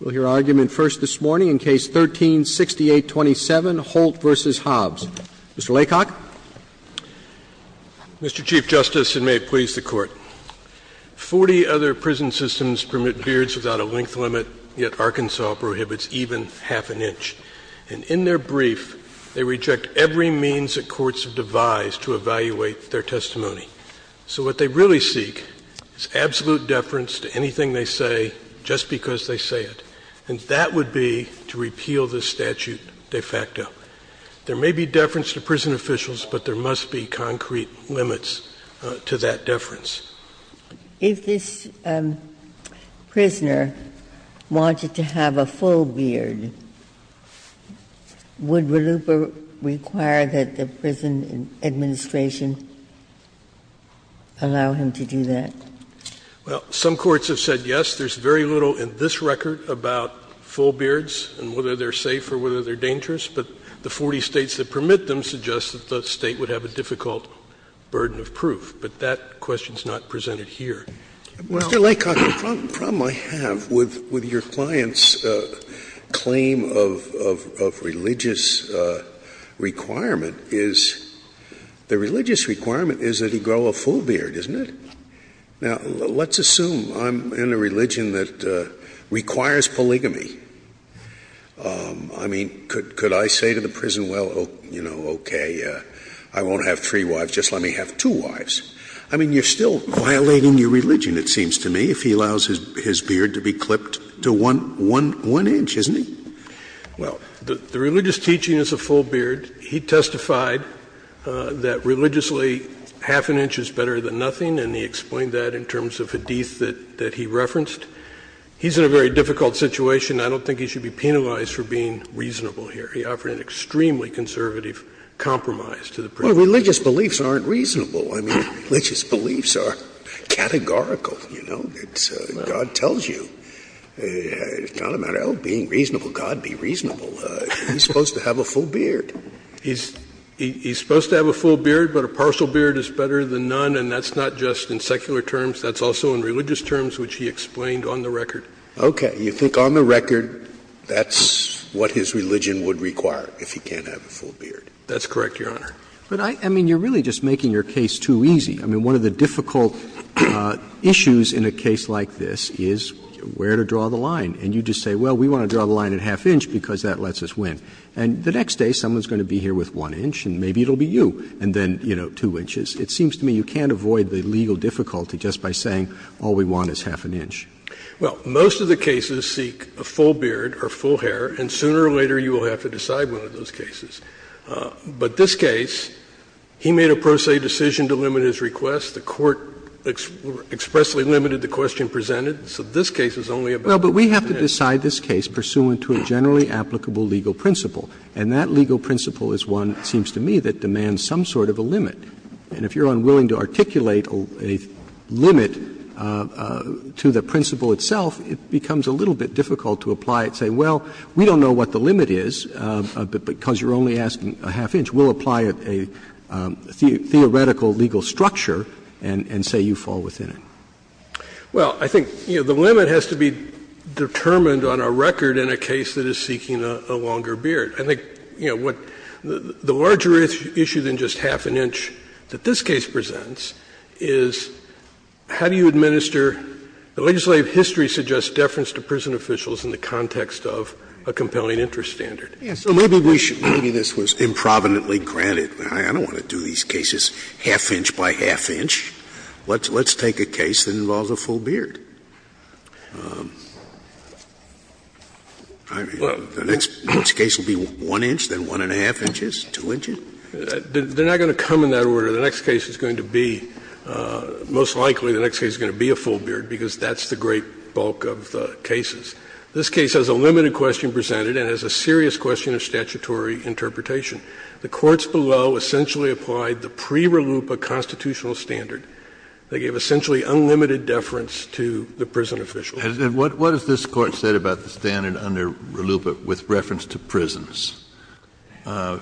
We'll hear argument first this morning in Case 13-6827, Holt v. Hobbs. Mr. Laycock. Mr. Chief Justice, and may it please the Court, 40 other prison systems permit beards without a length limit, yet Arkansas prohibits even half an inch. And in their brief, they reject every means that courts have devised to evaluate their testimony. So what they really seek is absolute deference to anything they say just because they say it. And that would be to repeal this statute de facto. There may be deference to prison officials, but there must be concrete limits to that deference. If this prisoner wanted to have a full beard, would RLUIPA require that the prison administration allow him to do that? Well, some courts have said yes. There's very little in this record about full beards and whether they're safe or whether they're dangerous, but the 40 States that permit them suggest that the State would have a difficult burden of proof. But that question is not presented here. Mr. Laycock, the problem I have with your client's claim of religious requirement is the religious requirement is that he grow a full beard, isn't it? Now, let's assume I'm in a religion that requires polygamy. I mean, could I say to the prison, well, you know, okay, I won't have three wives, just let me have two wives. I mean, you're still violating your religion, it seems to me, if he allows his beard to be clipped to 1 inch, isn't he? Well, the religious teaching is a full beard. He testified that religiously half an inch is better than nothing, and he explained that in terms of Hadith that he referenced. He's in a very difficult situation. I don't think he should be penalized for being reasonable here. He offered an extremely conservative compromise to the prison. Well, religious beliefs aren't reasonable. I mean, religious beliefs are categorical, you know. It's God tells you. It's not a matter of being reasonable. God be reasonable. He's supposed to have a full beard. He's supposed to have a full beard, but a partial beard is better than none, and that's not just in secular terms. That's also in religious terms, which he explained on the record. Okay. You think on the record that's what his religion would require if he can't have a full That's correct, Your Honor. But, I mean, you're really just making your case too easy. I mean, one of the difficult issues in a case like this is where to draw the line. And you just say, well, we want to draw the line at half inch because that lets us win. And the next day someone is going to be here with one inch and maybe it will be you, and then, you know, two inches. It seems to me you can't avoid the legal difficulty just by saying all we want is half an inch. Well, most of the cases seek a full beard or full hair, and sooner or later you will have to decide one of those cases. But this case, he made a pro se decision to limit his request. The Court expressly limited the question presented, so this case is only about one inch. Well, but we have to decide this case pursuant to a generally applicable legal principle. And that legal principle is one, it seems to me, that demands some sort of a limit. And if you are unwilling to articulate a limit to the principle itself, it becomes a little bit difficult to apply it and say, well, we don't know what the limit is because you are only asking a half inch. We will apply a theoretical legal structure and say you fall within it. Well, I think the limit has to be determined on a record in a case that is seeking a longer beard. I think, you know, the larger issue than just half an inch that this case presents is how do you administer the legislative history suggests deference to prison officials in the context of a compelling interest standard. Scalia, so maybe we should, maybe this was improvidently granted. I don't want to do these cases half inch by half inch. Let's take a case that involves a full beard. I mean, the next case will be one inch, then one and a half inches, two inches? They are not going to come in that order. The next case is going to be, most likely the next case is going to be a full beard because that's the great bulk of the cases. This case has a limited question presented and has a serious question of statutory interpretation. The courts below essentially applied the pre-Ralupa constitutional standard. They gave essentially unlimited deference to the prison officials. Kennedy, what has this Court said about the standard under Ralupa with reference to prisons? That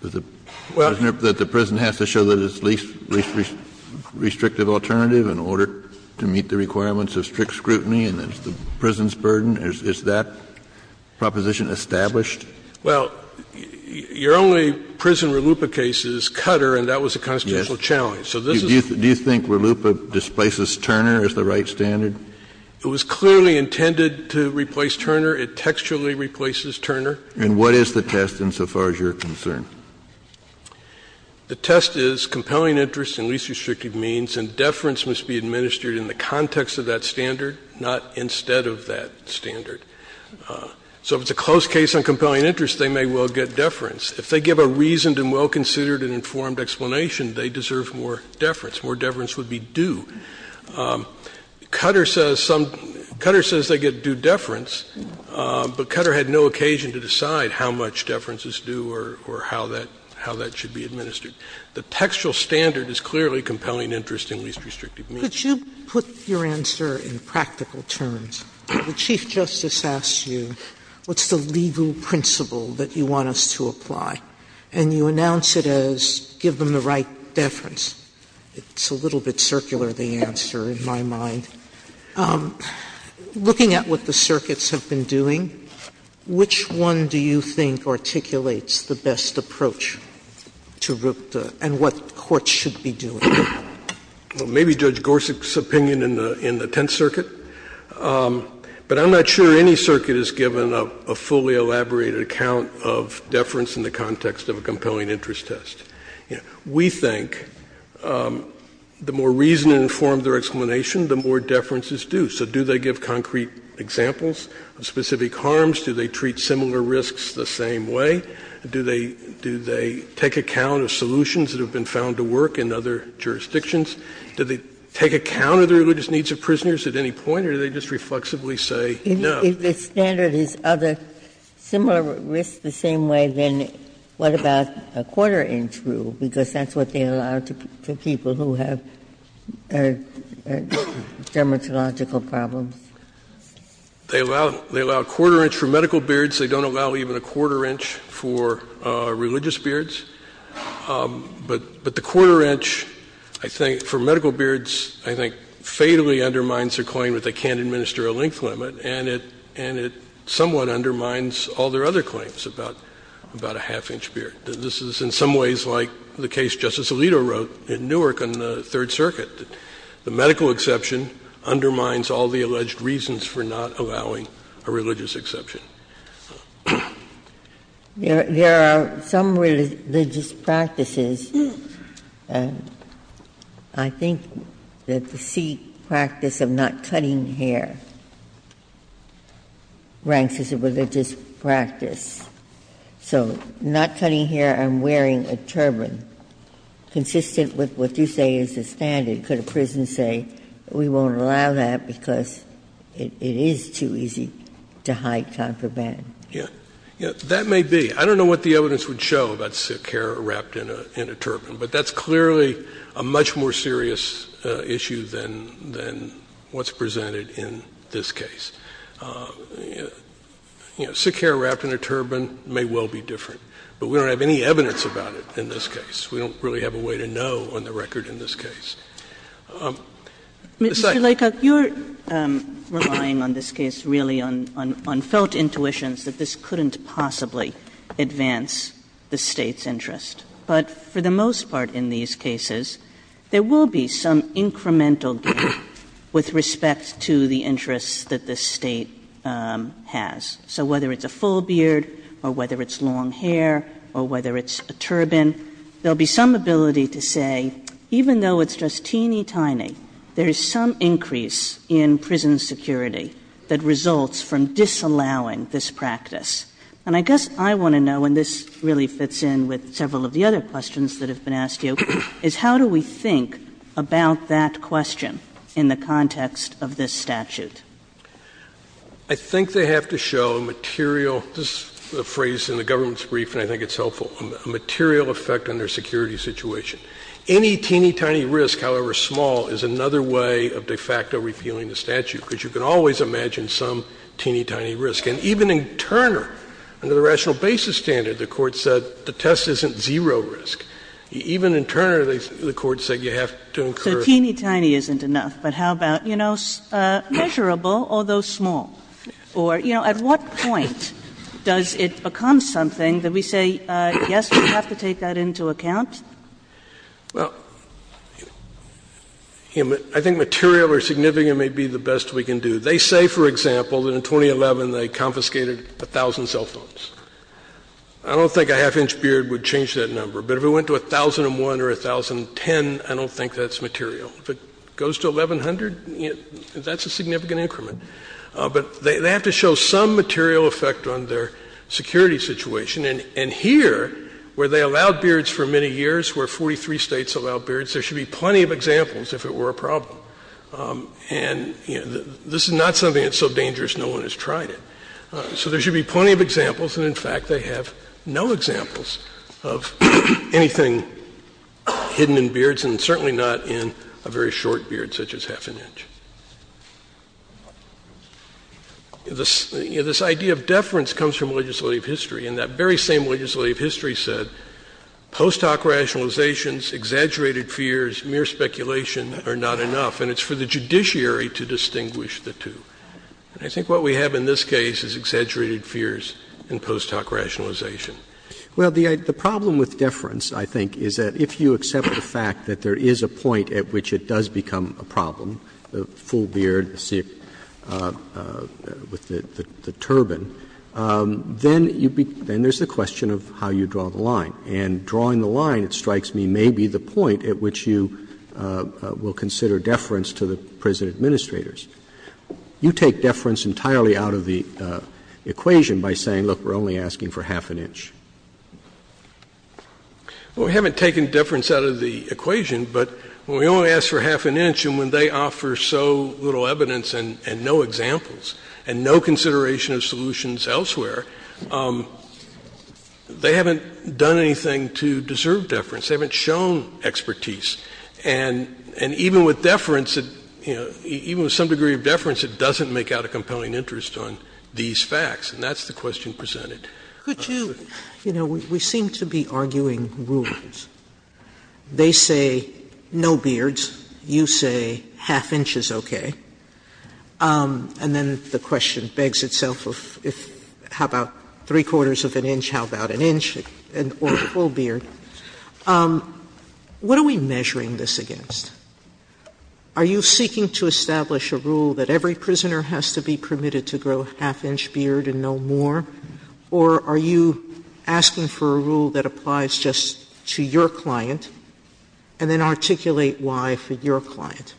the prison has to show that it's the least restrictive alternative in order to meet the requirements of strict scrutiny and that it's the prison's burden? Is that proposition established? Well, your only prison Ralupa case is Cutter, and that was a constitutional So this is the right standard. Do you think Ralupa displaces Turner as the right standard? It was clearly intended to replace Turner. It textually replaces Turner. And what is the test insofar as you're concerned? The test is compelling interest in least restrictive means and deference must be administered in the context of that standard, not instead of that standard. So if it's a close case on compelling interest, they may well get deference. If they give a reasoned and well-considered and informed explanation, they deserve more deference. More deference would be due. Cutter says some — Cutter says they get due deference, but Cutter had no occasion to decide how much deference is due or how that — how that should be administered. The textual standard is clearly compelling interest in least restrictive means. Sotomayor, could you put your answer in practical terms? The Chief Justice asks you, what's the legal principle that you want us to apply? And you announce it as give them the right deference. It's a little bit circular, the answer, in my mind. Looking at what the circuits have been doing, which one do you think articulates the best approach to RUPTA and what courts should be doing? Well, maybe Judge Gorsuch's opinion in the Tenth Circuit, but I'm not sure any circuit has given a fully elaborated account of deference in the context of a compelling interest test. We think the more reasoned and informed their explanation, the more deference is due. So do they give concrete examples of specific harms? Do they treat similar risks the same way? Do they take account of solutions that have been found to work in other jurisdictions? Do they take account of the religious needs of prisoners at any point? Or do they just reflexively say no? If the standard is other similar risks the same way, then what about a quarter-inch rule, because that's what they allow to people who have dermatological problems? They allow a quarter-inch for medical beards. They don't allow even a quarter-inch for religious beards. But the quarter-inch, I think, for medical beards, I think, fatally undermines their claim that they can't administer a length limit, and it somewhat undermines all their other claims about a half-inch beard. This is in some ways like the case Justice Alito wrote in Newark on the Third Circuit. The medical exception undermines all the alleged reasons for not allowing a religious exception. There are some religious practices. I think that the C practice of not cutting hair ranks as a religious practice. So not cutting hair and wearing a turban, consistent with what you say is the standard. Ginsburg. I don't know what the evidence would show about sick hair wrapped in a turban, but that's clearly a much more serious issue than what's presented in this case. You know, sick hair wrapped in a turban may well be different, but we don't have any evidence about it in this case. We don't really have a way to know on the record in this case. Kagan. Mr. Laycock, you're relying on this case really on felt intuitions that this couldn't possibly advance the State's interest. But for the most part in these cases, there will be some incremental gain with respect to the interests that the State has. So whether it's a full beard or whether it's long hair or whether it's a turban, there will be some ability to say, even though it's just teeny tiny, there is some increase in prison security that results from disallowing this practice. And I guess I want to know, and this really fits in with several of the other questions that have been asked to you, is how do we think about that question in the context of this statute? I think they have to show a material — this is a phrase in the government's brief, and I think it's helpful — a material effect on their security situation. Any teeny tiny risk, however small, is another way of de facto repealing the statute, because you can always imagine some teeny tiny risk. And even in Turner, under the rational basis standard, the Court said the test isn't zero risk. Even in Turner, the Court said you have to incur. Kagan. So teeny tiny isn't enough, but how about, you know, measurable, although small? Or, you know, at what point does it become something that we say, yes, we have to take that into account? Well, I think material or significant may be the best we can do. They say, for example, that in 2011 they confiscated 1,000 cell phones. I don't think a half-inch beard would change that number. But if it went to 1,001 or 1,010, I don't think that's material. If it goes to 1,100, that's a significant increment. But they have to show some material effect on their security situation. And here, where they allowed beards for many years, where 43 states allowed beards, there should be plenty of examples if it were a problem. And, you know, this is not something that's so dangerous no one has tried it. So there should be plenty of examples. And, in fact, they have no examples of anything hidden in beards, and certainly not in a very short beard such as half an inch. This idea of deference comes from legislative history. And that very same legislative history said post hoc rationalizations, exaggerated fears, mere speculation are not enough. And it's for the judiciary to distinguish the two. And I think what we have in this case is exaggerated fears and post hoc rationalization. Roberts Well, the problem with deference, I think, is that if you accept the fact that there is a point at which it does become a problem, the full beard with the turban, then there's the question of how you draw the line. And drawing the line, it strikes me, may be the point at which you will consider deference to the prison administrators. You take deference entirely out of the equation by saying, look, we're only asking for half an inch. Well, we haven't taken deference out of the equation, but when we only ask for half an inch and when they offer so little evidence and no examples and no consideration of solutions elsewhere, they haven't done anything to deserve deference. They haven't shown expertise. And even with deference, you know, even with some degree of deference, it doesn't make out a compelling interest on these facts. And that's the question presented. Sotomayor Could you, you know, we seem to be arguing rules. They say no beards. You say half inch is okay. And then the question begs itself of how about three-quarters of an inch, how about an inch or a full beard. What are we measuring this against? Are you seeking to establish a rule that every prisoner has to be permitted to grow a half-inch beard and no more, or are you asking for a rule that applies just to your client and then articulate why for your client?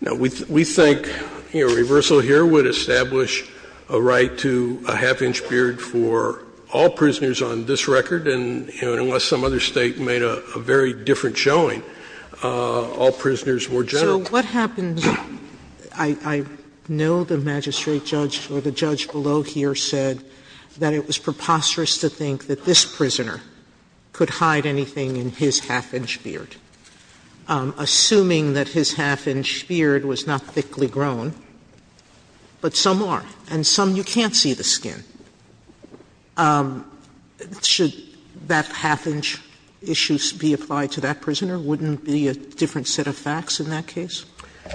No. We think, you know, reversal here would establish a right to a half-inch beard for all prisoners on this record, and, you know, unless some other State made a very different showing, all prisoners were general. Sotomayor So what happens – I know the magistrate judge or the judge below here said that it was preposterous to think that this prisoner could hide anything in his half-inch beard, assuming that his half-inch beard was not thickly grown, but some are. And some you can't see the skin. Wouldn't it be a different set of facts in that case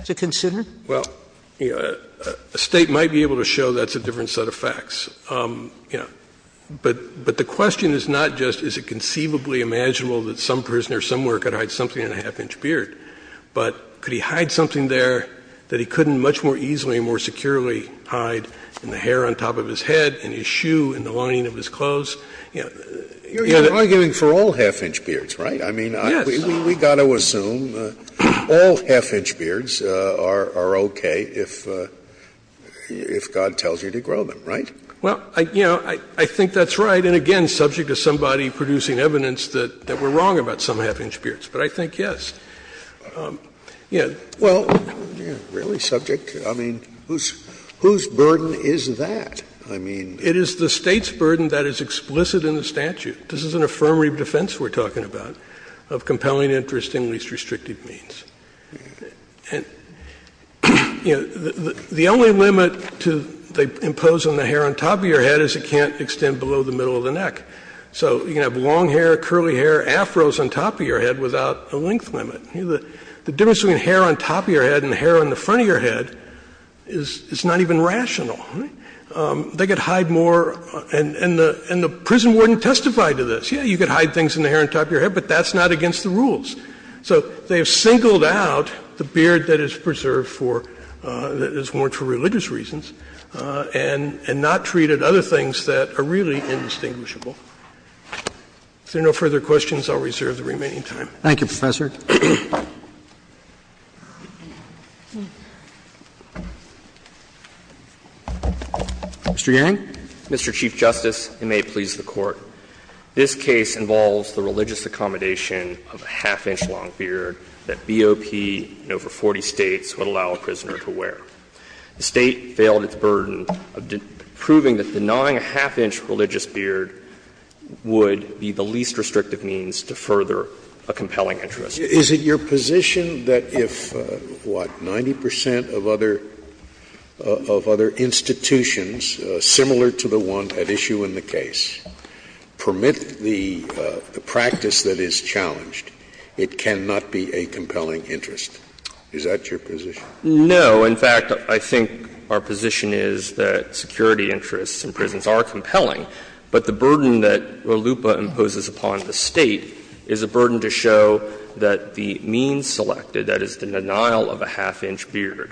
to consider? Well, a State might be able to show that's a different set of facts, you know. But the question is not just is it conceivably imaginable that some prisoner somewhere could hide something in a half-inch beard, but could he hide something there that he couldn't much more easily and more securely hide in the hair on top of his head, in his shoe, in the lining of his clothes? You're arguing for all half-inch beards, right? I mean, we've got to assume all half-inch beards are okay if God tells you to grow them, right? Well, you know, I think that's right. And, again, subject to somebody producing evidence that we're wrong about some half-inch beards. But I think, yes. Yeah. Well, really subject? I mean, whose burden is that? I mean. It is the State's burden that is explicit in the statute. This is an affirmative defense we're talking about. Of compelling interest in least restrictive means. And, you know, the only limit to they impose on the hair on top of your head is it can't extend below the middle of the neck. So you can have long hair, curly hair, afros on top of your head without a length limit. You know, the difference between hair on top of your head and hair on the front of your head is not even rational, right? They could hide more, and the prison warden testified to this. Yeah, you could hide things in the hair on top of your head, but that's not against the rules. So they have singled out the beard that is preserved for, that is worn for religious reasons, and not treated other things that are really indistinguishable. If there are no further questions, I'll reserve the remaining time. Thank you, Professor. Mr. Yang. Mr. Chief Justice, and may it please the Court. This case involves the religious accommodation of a half-inch long beard that BOP in over 40 States would allow a prisoner to wear. The State failed its burden of proving that denying a half-inch religious beard would be the least restrictive means to further a compelling interest. Is it your position that if, what, 90 percent of other institutions similar to the one at issue in the case permit the practice that is challenged, it cannot be a compelling interest? Is that your position? No. In fact, I think our position is that security interests in prisons are compelling, but the burden that LUPA imposes upon the State is a burden to show that the means to do so is not the same as the means to do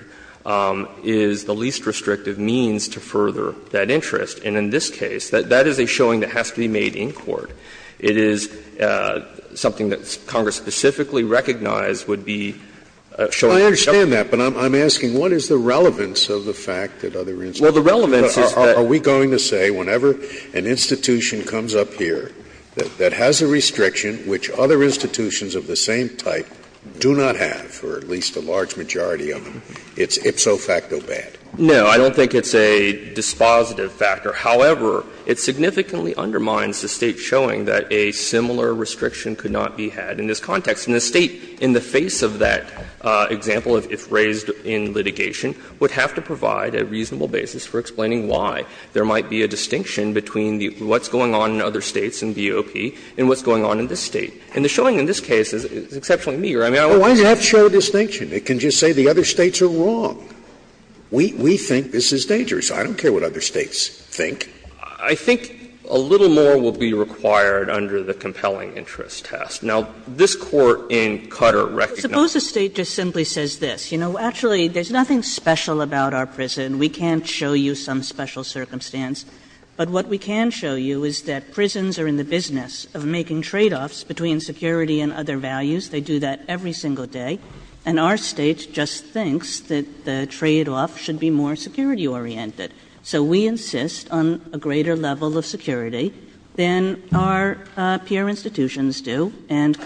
so in this case. That is a showing that has to be made in court. It is something that Congress specifically recognized would be showing. Well, I understand that, but I'm asking what is the relevance of the fact that other institutions are going to say whenever an institution comes up here that has a restriction which other institutions of the same type do not have, or at least a large majority of them, it's ipso facto bad? No, I don't think it's a dispositive factor. However, it significantly undermines the State showing that a similar restriction could not be had in this context. And the State, in the face of that example, if raised in litigation, would have to provide a reasonable basis for explaining why there might be a distinction between what's going on in other States in BOP and what's going on in this State. And the showing in this case is exceptionally meager. I mean, I would say that's the case. Scalia, Why does it have to show a distinction? It can just say the other States are wrong. We think this is dangerous. I don't care what other States think. I think a little more will be required under the compelling interest test. Now, this Court in Cutter recognized that. Suppose the State just simply says this. You know, actually, there's nothing special about our prison. We can't show you some special circumstance. But what we can show you is that prisons are in the business of making tradeoffs between security and other values. They do that every single day. And our State just thinks that the tradeoff should be more security-oriented. So we insist on a greater level of security than our peer institutions do. And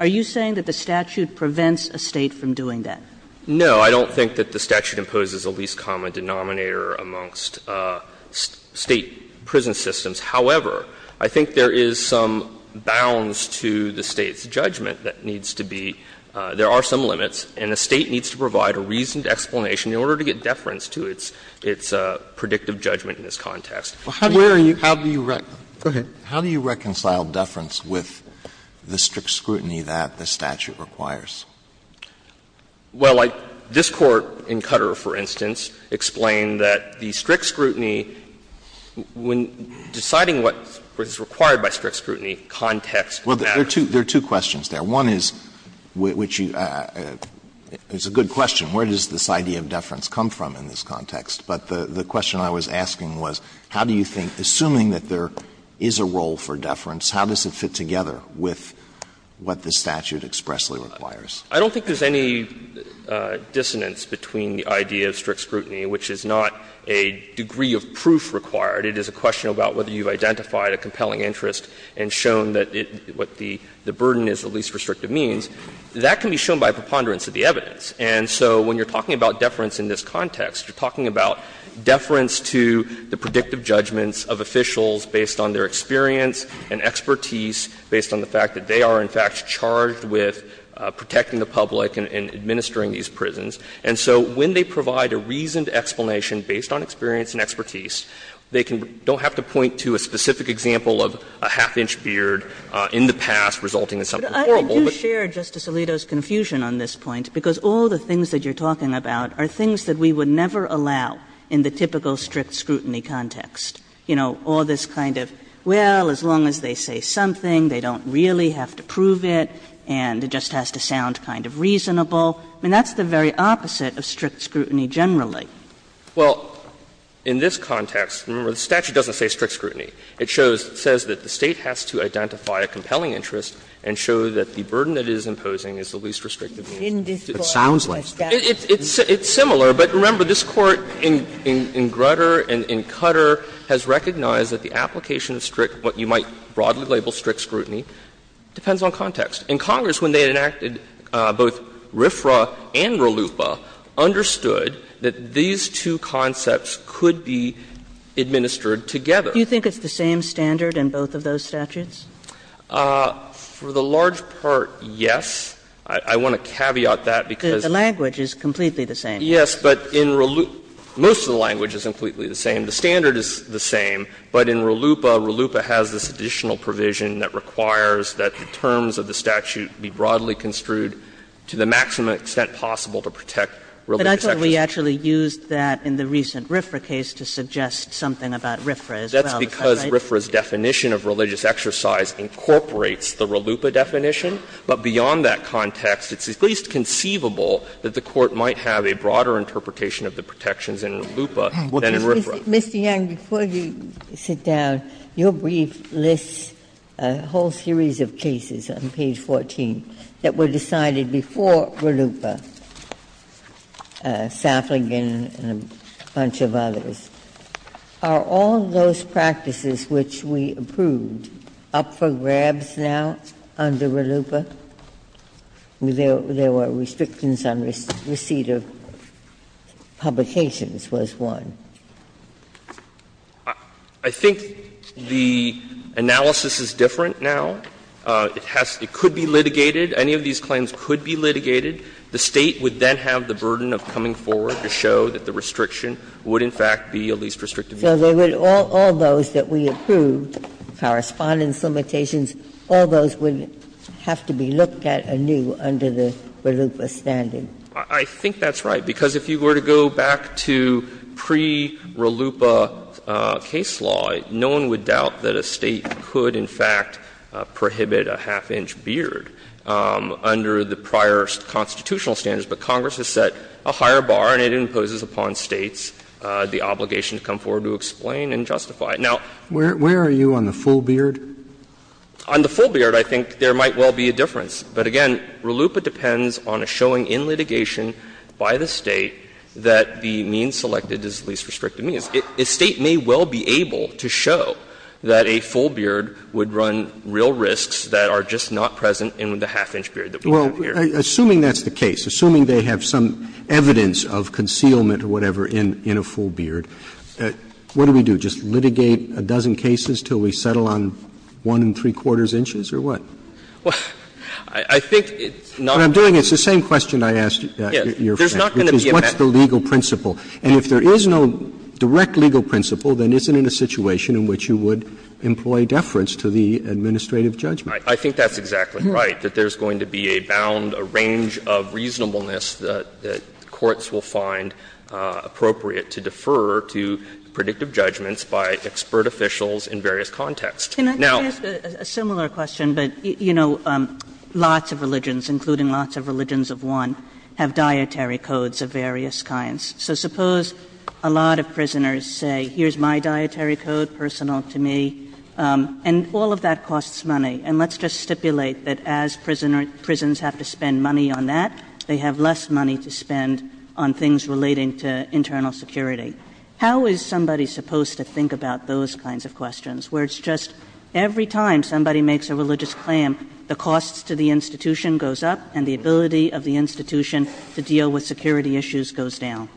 are you saying that the statute prevents a State from doing that? No. I don't think that the statute imposes a least common denominator amongst State prison systems. However, I think there is some bounds to the State's judgment that needs to be. There are some limits, and the State needs to provide a reasoned explanation in order to get deference to its predictive judgment in this context. How do you reconcile deference with the strict scrutiny that the statute requires? Well, this Court in Cutter, for instance, explained that the strict scrutiny, when deciding what is required by strict scrutiny, context matters. Well, there are two questions there. One is, which you – it's a good question. Where does this idea of deference come from in this context? But the question I was asking was, how do you think, assuming that there is a role for deference, how does it fit together with what the statute expressly requires? I don't think there's any dissonance between the idea of strict scrutiny, which is not a degree of proof required. It is a question about whether you've identified a compelling interest and shown that what the burden is, the least restrictive means, that can be shown by a preponderance of the evidence. And so when you're talking about deference in this context, you're talking about deference to the predictive judgments of officials based on their experience and expertise, based on the fact that they are, in fact, charged with protecting the public and administering these prisons. And so when they provide a reasoned explanation based on experience and expertise, they can – don't have to point to a specific example of a half-inch beard in the past resulting in something horrible. Kagan, but I do share Justice Alito's confusion on this point, because all the things that you're talking about are things that we would never allow in the typical strict scrutiny context. You know, all this kind of, well, as long as they say something, they don't really have to prove it, and it just has to sound kind of reasonable. I mean, that's the very opposite of strict scrutiny generally. Well, in this context, remember, the statute doesn't say strict scrutiny. It shows – says that the State has to identify a compelling interest and show that the burden it is imposing is the least restrictive means. It sounds like. It's similar, but remember, this Court in Grutter and in Cutter has recognized that the application of strict, what you might broadly label strict scrutiny, depends on context. And Congress, when they enacted both RFRA and RLUIPA, understood that these two concepts could be administered together. Do you think it's the same standard in both of those statutes? For the large part, yes. I want to caveat that because the language is completely the same. Yes, but in RLUIPA, most of the language is completely the same. The standard is the same, but in RLUIPA, RLUIPA has this additional provision that requires that the terms of the statute be broadly construed to the maximum extent possible to protect religious exercises. But I thought we actually used that in the recent RFRA case to suggest something about RFRA as well. Is that right? That's because RFRA's definition of religious exercise incorporates the RLUIPA definition, but beyond that context, it's at least conceivable that the Court might have a broader interpretation of the protections in RLUIPA than in RFRA. Ginsburg. Mr. Yang, before you sit down, your brief lists a whole series of cases on page 14 that were decided before RLUIPA, Saffling and a bunch of others. Are all those practices which we approved up for grabs now under RLUIPA? There were restrictions on receipt of publications was one. I think the analysis is different now. It has to be – it could be litigated. Any of these claims could be litigated. The State would then have the burden of coming forward to show that the restriction would in fact be a least restrictive. So they would all – all those that we approved, correspondence limitations, all those would have to be looked at anew under the RLUIPA standard. I think that's right, because if you were to go back to pre-RLUIPA case law, no one would doubt that a State could in fact prohibit a half-inch beard under the prior constitutional standards, but Congress has set a higher bar and it imposes upon States the obligation to come forward to explain and justify. Now – Where are you on the full beard? On the full beard, I think there might well be a difference. But again, RLUIPA depends on a showing in litigation by the State that the means selected is least restrictive means. A State may well be able to show that a full beard would run real risks that are just not present in the half-inch beard that we have here. Well, assuming that's the case, assuming they have some evidence of concealment or whatever in a full beard, what do we do? Just litigate a dozen cases until we settle on one and three-quarters inches or what? Well, I think it's not going to be a bad thing. What I'm doing is the same question I asked your friend, which is what's the legal principle? And if there is no direct legal principle, then isn't it a situation in which you would employ deference to the administrative judgment? I think that's exactly right, that there's going to be a bound, a range of reasonableness that courts will find appropriate to defer to predictive judgments by expert officials in various contexts. Now – Kagan is a similar question, but, you know, lots of religions, including lots of religions of one, have dietary codes of various kinds, so suppose a lot of prisoners say here's my dietary code personal to me and all of that costs money. And let's just stipulate that as prisoners have to spend money on that, they have less money to spend on things relating to internal security. How is somebody supposed to think about those kinds of questions where it's just every time somebody makes a religious claim, the costs to the institution goes up and the ability of the institution to deal with security issues goes down?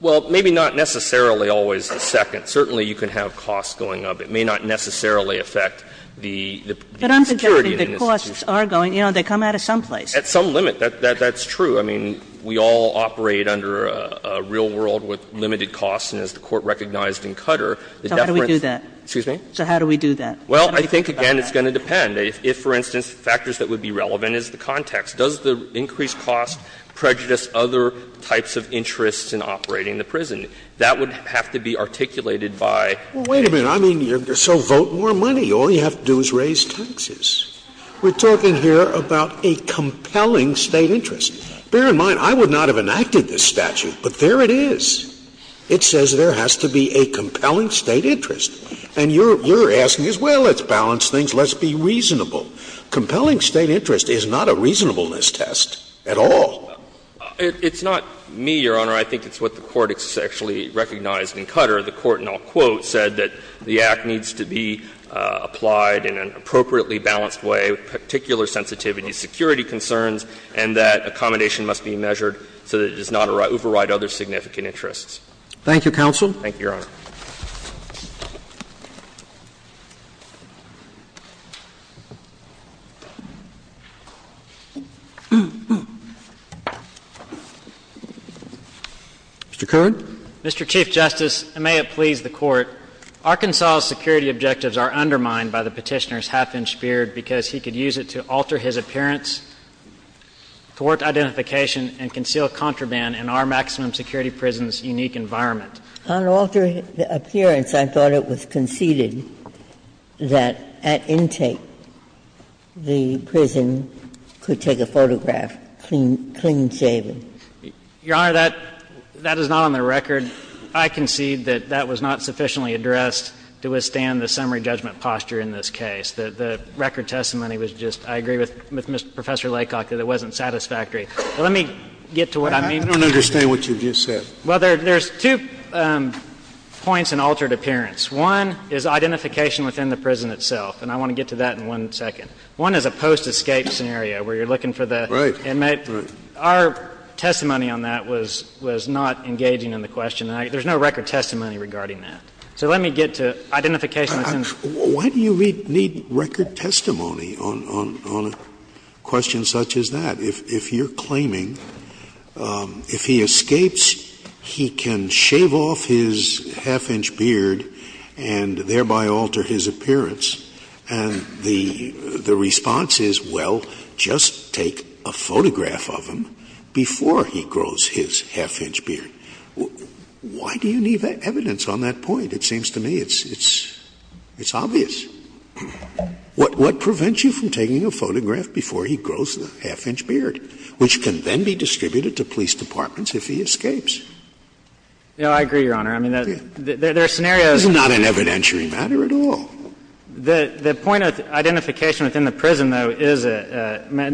Well, maybe not necessarily always a second. Certainly you can have costs going up. It may not necessarily affect the security of the institution. But I'm suggesting that costs are going up. They come out of some place. At some limit. That's true. I mean, we all operate under a real world with limited costs, and as the Court recognized in Cutter, the deference. So how do we do that? Excuse me? So how do we do that? Well, I think, again, it's going to depend. If, for instance, factors that would be relevant is the context. Does the increased cost prejudice other types of interests in operating the prison? That would have to be articulated by the State. Well, wait a minute. I mean, so vote more money. All you have to do is raise taxes. We're talking here about a compelling State interest. Bear in mind, I would not have enacted this statute, but there it is. It says there has to be a compelling State interest. And you're asking us, well, let's balance things, let's be reasonable. Compelling State interest is not a reasonableness test at all. It's not me, Your Honor. I think it's what the Court actually recognized in Cutter. The Court, and I'll quote, said that the act needs to be applied in an appropriately balanced way with particular sensitivity, security concerns, and that accommodation must be measured so that it does not override other significant interests. Thank you, counsel. Thank you, Your Honor. Mr. Kern. Mr. Chief Justice, and may it please the Court, Arkansas' security objectives are undermined by the Petitioner's half-inch beard because he could use it to alter his appearance, thwart identification, and conceal contraband in our maximum security prison's unique environment. On altering the appearance, I thought it was conceded that at intake, the prison could take a photograph clean-shaven. Your Honor, that is not on the record. I concede that that was not sufficiently addressed to withstand the summary judgment posture in this case. The record testimony was just, I agree with Professor Laycock, that it wasn't satisfactory. Let me get to what I mean. I don't understand what you just said. Well, there's two points in altered appearance. One is identification within the prison itself, and I want to get to that in one second. One is a post-escape scenario where you're looking for the inmate. Our testimony on that was not engaging in the question. There's no record testimony regarding that. So let me get to identification. Why do you need record testimony on a question such as that? If you're claiming, if he escapes, he can shave off his half-inch beard and thereby alter his appearance, and the response is, well, just take a photograph of him before he grows his half-inch beard, why do you need evidence on that point? It seems to me it's obvious. What prevents you from taking a photograph before he grows the half-inch beard, which can then be distributed to police departments if he escapes? Yeah, I agree, Your Honor. I mean, there are scenarios. It's not an evidentiary matter at all. The point of identification within the prison, though, is an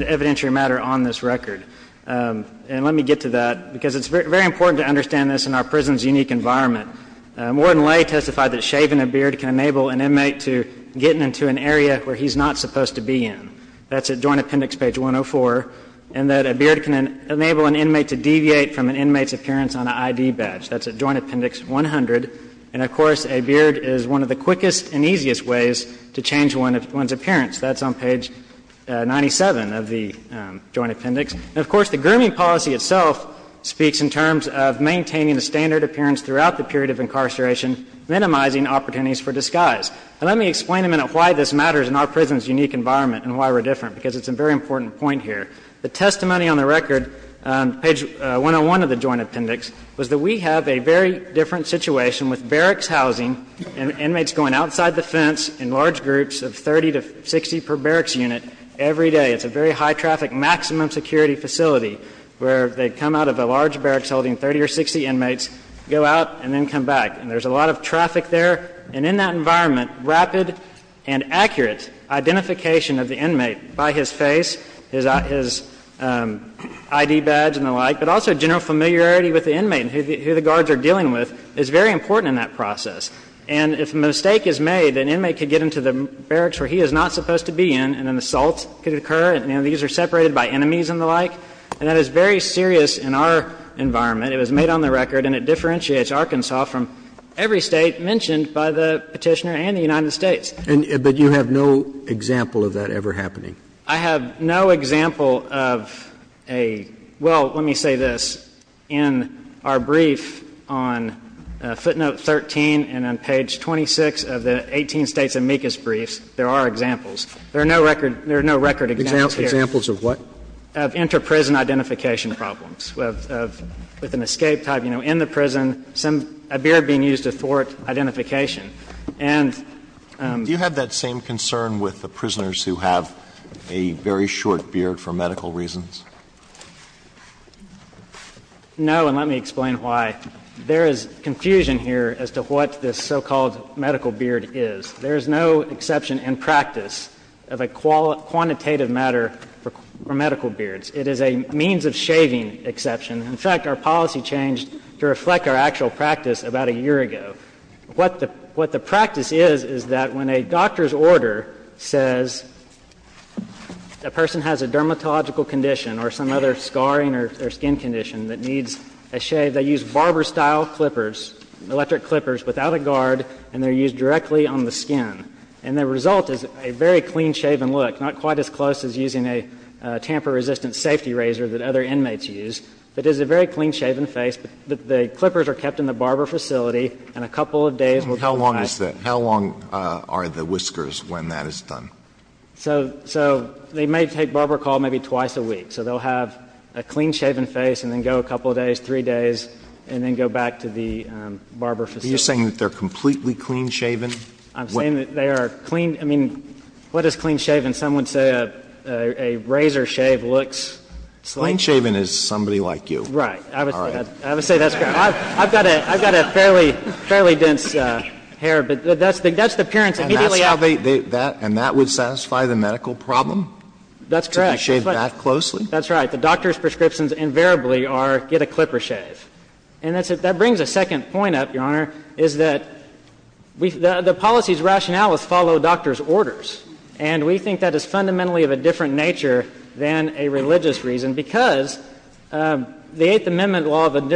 evidentiary matter on this record. And let me get to that, because it's very important to understand this in our prison's unique environment. Ward and Lay testified that shaving a beard can enable an inmate to get into an area where he's not supposed to be in. That's at Joint Appendix page 104. And that a beard can enable an inmate to deviate from an inmate's appearance on an ID badge. That's at Joint Appendix 100. And, of course, a beard is one of the quickest and easiest ways to change one's appearance. That's on page 97 of the Joint Appendix. And, of course, the grooming policy itself speaks in terms of maintaining a standard appearance throughout the period of incarceration, minimizing opportunities for disguise. And let me explain in a minute why this matters in our prison's unique environment and why we're different, because it's a very important point here. The testimony on the record, page 101 of the Joint Appendix, was that we have a very different situation with barracks housing and inmates going outside the fence in large groups of 30 to 60 per barracks unit every day. It's a very high traffic maximum security facility where they come out of a large group of 30 to 60 inmates, go out, and then come back. And there's a lot of traffic there, and in that environment, rapid and accurate identification of the inmate by his face, his ID badge and the like, but also general familiarity with the inmate and who the guards are dealing with is very important in that process. And if a mistake is made, an inmate could get into the barracks where he is not supposed to be in, and an assault could occur, and these are separated by enemies and the like. And that is very serious in our environment. It was made on the record, and it differentiates Arkansas from every State mentioned by the Petitioner and the United States. And you have no example of that ever happening? I have no example of a – well, let me say this. In our brief on footnote 13 and on page 26 of the 18 States amicus briefs, there are examples. There are no record – there are no record examples here. Examples of what? Of inter-prison identification problems, with an escape type, you know, in the prison, a beard being used to thwart identification. And the other thing is that the prisoners who are in the prison, they have a very short beard for medical reasons. No, and let me explain why. There is confusion here as to what this so-called medical beard is. There is no exception in practice of a quantitative matter for medical beards. It is a means of shaving exception. In fact, our policy changed to reflect our actual practice about a year ago. What the practice is, is that when a doctor's order says a person has a dermatological condition or some other scarring or skin condition that needs a shave, they use barber style clippers, electric clippers, without a guard, and they are used directly on the skin. And the result is a very clean-shaven look, not quite as close as using a tamper-resistant safety razor that other inmates use, but it is a very clean-shaven face. The clippers are kept in the barber facility, and a couple of days will provide How long is that? How long are the whiskers when that is done? So they may take barber call maybe twice a week. So they will have a clean-shaven face and then go a couple of days, three days, and then go back to the barber facility. Are you saying that they are completely clean-shaven? I'm saying that they are clean. I mean, what is clean-shaven? Some would say a razor shave looks like. Clean-shaven is somebody like you. Right. I would say that's correct. I've got a fairly dense hair, but that's the appearance immediately after. And that would satisfy the medical problem? That's correct. To shave that closely? That's right. The doctor's prescriptions invariably are get a clipper shave. And that brings a second point up, Your Honor, is that the policy's rationale is follow doctor's orders. And we think that is fundamentally of a different nature than a religious reason, because the Eighth Amendment law of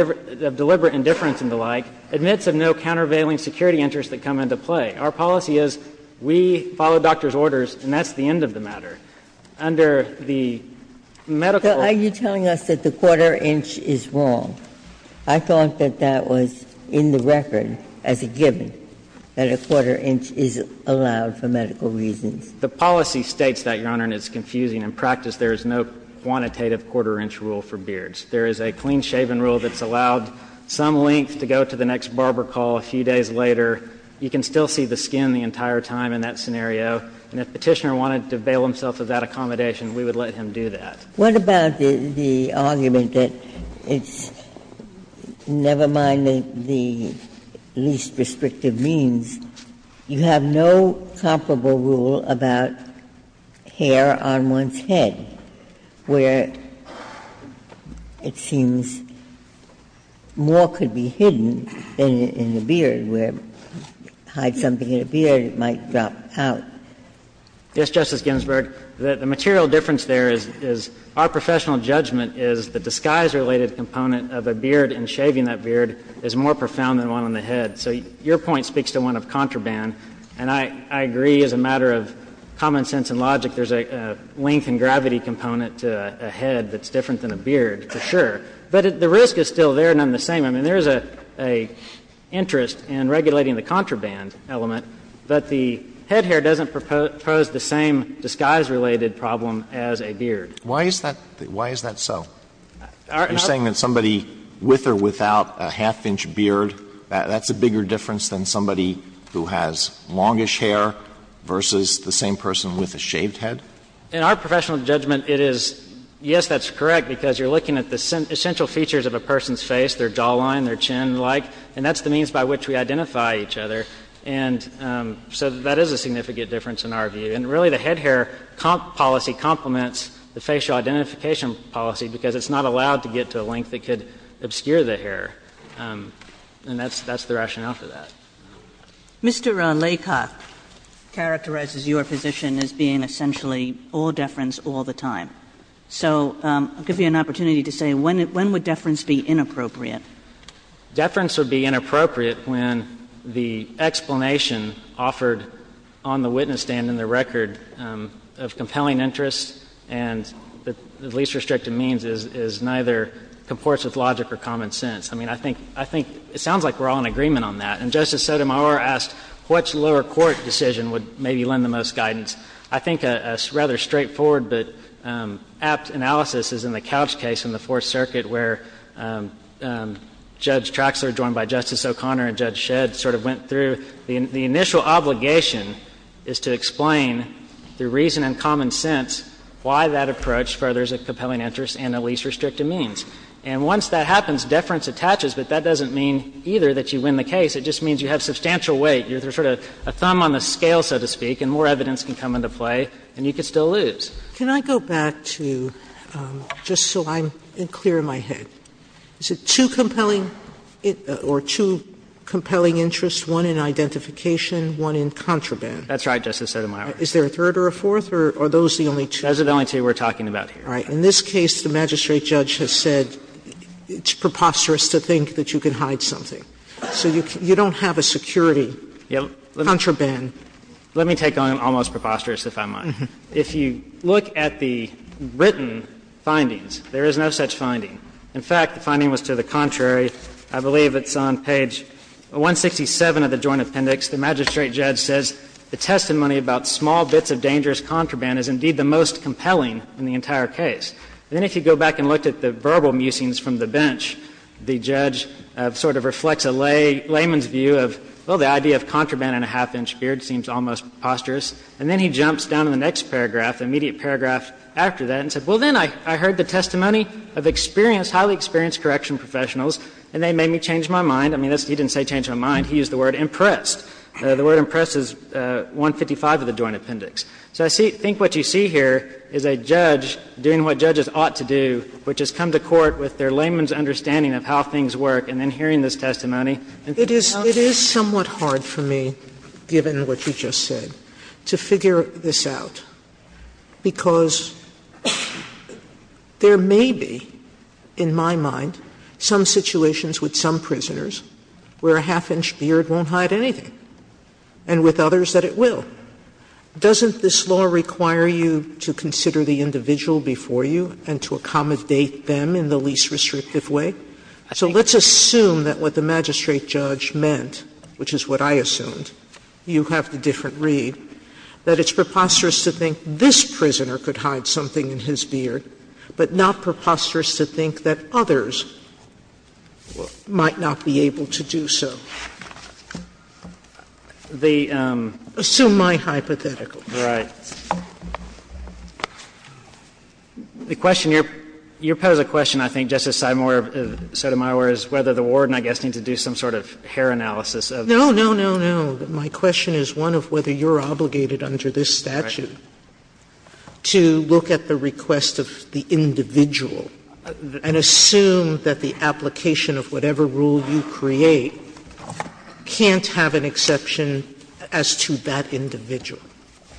deliberate indifference and the like admits of no countervailing security interests that come into play. Our policy is we follow doctor's orders, and that's the end of the matter. Under the medical law. Are you telling us that the quarter-inch is wrong? I thought that that was in the record as a given, that a quarter-inch is allowed for medical reasons. The policy states that, Your Honor, and it's confusing. In practice, there is no quantitative quarter-inch rule for beards. There is a clean-shaven rule that's allowed some length to go to the next barber call a few days later. You can still see the skin the entire time in that scenario. And if Petitioner wanted to bail himself of that accommodation, we would let him do that. What about the argument that it's, never mind the least restrictive means, you have no comparable rule about hair on one's head, where it seems more could be hidden than in the beard, where you hide something in a beard, it might drop out? Yes, Justice Ginsburg. The material difference there is our professional judgment is the disguise-related component of a beard and shaving that beard is more profound than one on the head. So your point speaks to one of contraband, and I agree as a matter of common sense and logic, there's a length and gravity component to a head that's different than a beard, for sure. But the risk is still there, none the same. I mean, there's an interest in regulating the contraband element, but the head hair doesn't propose the same disguise-related problem as a beard. Why is that so? You're saying that somebody with or without a half-inch beard, that's a bigger difference than somebody who has longish hair versus the same person with a shaved head? In our professional judgment, it is, yes, that's correct, because you're looking at the essential features of a person's face, their jawline, their chin-like, and that's the means by which we identify each other. And so that is a significant difference in our view. And really, the head hair policy complements the facial identification policy because it's not allowed to get to a length that could obscure the hair. And that's the rationale for that. Mr. Laycock characterizes your position as being essentially all deference all the time. So I'll give you an opportunity to say, when would deference be inappropriate? I mean, deference would be inappropriate when the explanation offered on the witness stand in the record of compelling interest and the least restrictive means is neither comports with logic or common sense. I mean, I think — I think it sounds like we're all in agreement on that. And Justice Sotomayor asked which lower court decision would maybe lend the most guidance. I think a rather straightforward but apt analysis is in the Couch case in the Fourth Circuit where Judge Traxler, joined by Justice O'Connor and Judge Shedd, sort of went through the initial obligation is to explain, through reason and common sense, why that approach furthers a compelling interest and a least restrictive means. And once that happens, deference attaches, but that doesn't mean either that you win the case. It just means you have substantial weight. You're sort of a thumb on the scale, so to speak, and more evidence can come into play, and you could still lose. Sotomayor, can I go back to, just so I'm clear in my head, is it two compelling — or two compelling interests, one in identification, one in contraband? That's right, Justice Sotomayor. Is there a third or a fourth, or are those the only two? Those are the only two we're talking about here. All right. In this case, the magistrate judge has said it's preposterous to think that you can hide something. So you don't have a security contraband. Let me take on an almost preposterous, if I might. If you look at the written findings, there is no such finding. In fact, the finding was to the contrary. I believe it's on page 167 of the Joint Appendix. The magistrate judge says, ''The testimony about small bits of dangerous contraband is indeed the most compelling in the entire case.'' And then if you go back and look at the verbal musings from the bench, the judge sort of reflects a layman's view of, well, the idea of contraband and a half-inch beard seems almost preposterous. And then he jumps down to the next paragraph, the immediate paragraph after that, and says, ''Well, then I heard the testimony of experienced, highly experienced correction professionals, and they made me change my mind.'' I mean, he didn't say change my mind. He used the word ''impressed.'' The word ''impressed'' is 155 of the Joint Appendix. So I think what you see here is a judge doing what judges ought to do, which is come to court with their layman's understanding of how things work and then hearing this testimony. Sotomayor It is somewhat hard for me, given what you just said, to figure this out, because there may be, in my mind, some situations with some prisoners where a half-inch beard won't hide anything, and with others that it will. Doesn't this law require you to consider the individual before you and to accommodate them in the least restrictive way? So let's assume that what the magistrate judge meant, which is what I assumed you have the different read, that it's preposterous to think this prisoner could hide something in his beard, but not preposterous to think that others might not be able to do so. Assume my hypothetical. Right. The question, your pose of question, I think, Justice Sotomayor, is whether the warden, I guess, needs to do some sort of hair analysis of this. No, no, no, no. My question is one of whether you're obligated under this statute to look at the request of the individual and assume that the application of whatever rule you create can't have an exception as to that individual.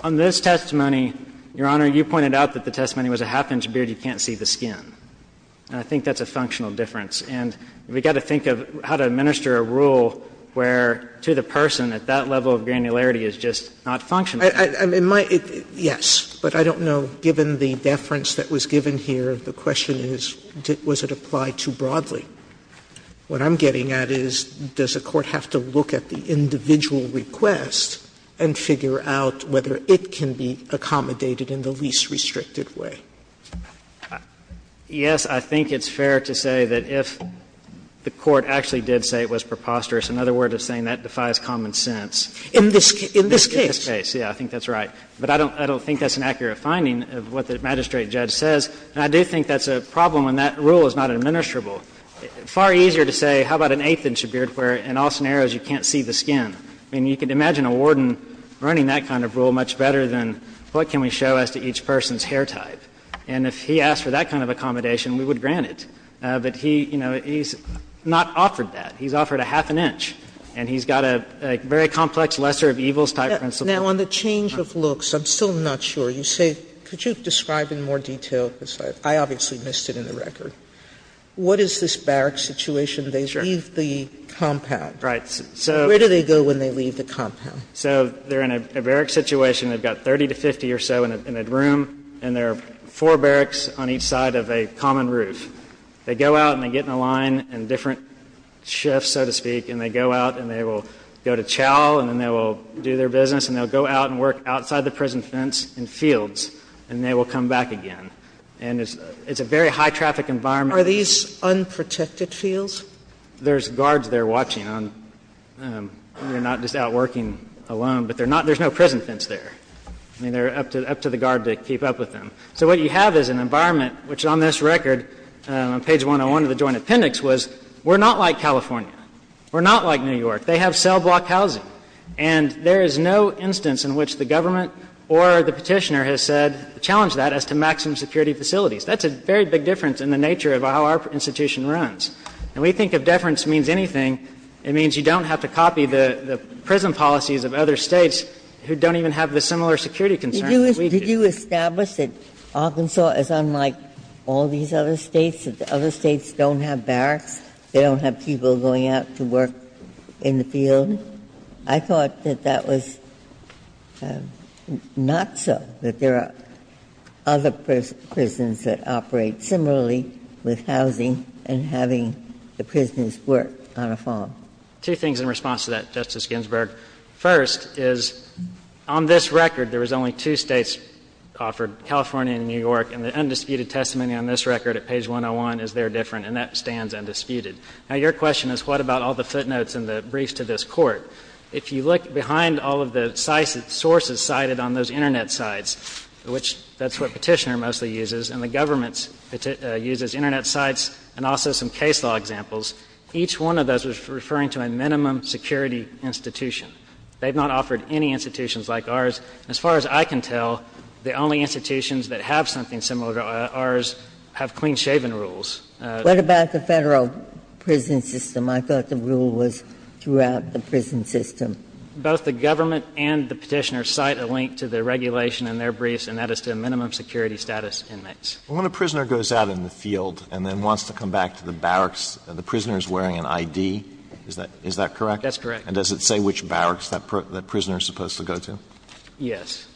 On this testimony, your Honor, you pointed out that the testimony was a half-inch beard, you can't see the skin. And I think that's a functional difference. And we've got to think of how to administer a rule where, to the person, at that level of granularity, it's just not functional. I'm in my yes, but I don't know, given the deference that was given here, the question is, was it applied too broadly? What I'm getting at is, does a court have to look at the individual request and figure out whether it can be accommodated in the least restricted way? Yes, I think it's fair to say that if the court actually did say it was preposterous, another word of saying that defies common sense. In this case? In this case, yes. I think that's right. But I don't think that's an accurate finding of what the magistrate judge says. And I do think that's a problem when that rule is not administrable. Far easier to say, how about an eighth-inch beard where, in all scenarios, you can't see the skin? I mean, you can imagine a warden running that kind of rule much better than, what can we show as to each person's hair type? And if he asked for that kind of accommodation, we would grant it. But he, you know, he's not offered that. He's offered a half an inch. And he's got a very complex lesser of evils type principle. Sotomayor, on the change of looks, I'm still not sure. You say, could you describe in more detail, because I obviously missed it in the record, what is this barrack situation? They leave the compound. Right. Where do they go when they leave the compound? So they're in a barrack situation. They've got 30 to 50 or so in a room, and there are four barracks on each side of a common roof. They go out and they get in a line and different shifts, so to speak, and they go out and they will go to chow, and then they will do their business, and they'll go out and work outside the prison fence in fields, and they will come back again. And it's a very high-traffic environment. Are these unprotected fields? There's guards there watching on. They're not just out working alone, but they're not — there's no prison fence there. I mean, they're up to the guard to keep up with them. So what you have is an environment, which on this record, on page 101 of the Joint Appendix, was we're not like California. We're not like New York. They have cell block housing. And there is no instance in which the government or the Petitioner has said — challenged that as to maximum security facilities. That's a very big difference in the nature of how our institution runs. And we think if deference means anything, it means you don't have to copy the prison policies of other States who don't even have the similar security concerns that we do. Ginsburg. Did you establish that Arkansas is unlike all these other States, that the other States don't have barracks, they don't have people going out to work in the field? I thought that that was not so, that there are other prisons that operate similarly with housing and having the prisoners work on a farm. Two things in response to that, Justice Ginsburg. First is, on this record, there was only two States offered, California and New York. And the undisputed testimony on this record at page 101 is there different, and that stands undisputed. Now, your question is, what about all the footnotes in the briefs to this Court? If you look behind all of the sources cited on those Internet sites, which that's what Petitioner mostly uses, and the government uses Internet sites and also some case law examples, each one of those was referring to a minimum security institution. They've not offered any institutions like ours. As far as I can tell, the only institutions that have something similar to ours have clean-shaven rules. What about the Federal prison system? I thought the rule was throughout the prison system. Both the government and the Petitioner cite a link to the regulation in their briefs, and that is to minimum security status inmates. Alito, when a prisoner goes out in the field and then wants to come back to the barracks, the prisoner is wearing an ID. Is that correct? That's correct. And does it say which barracks that prisoner is supposed to go to? Yes.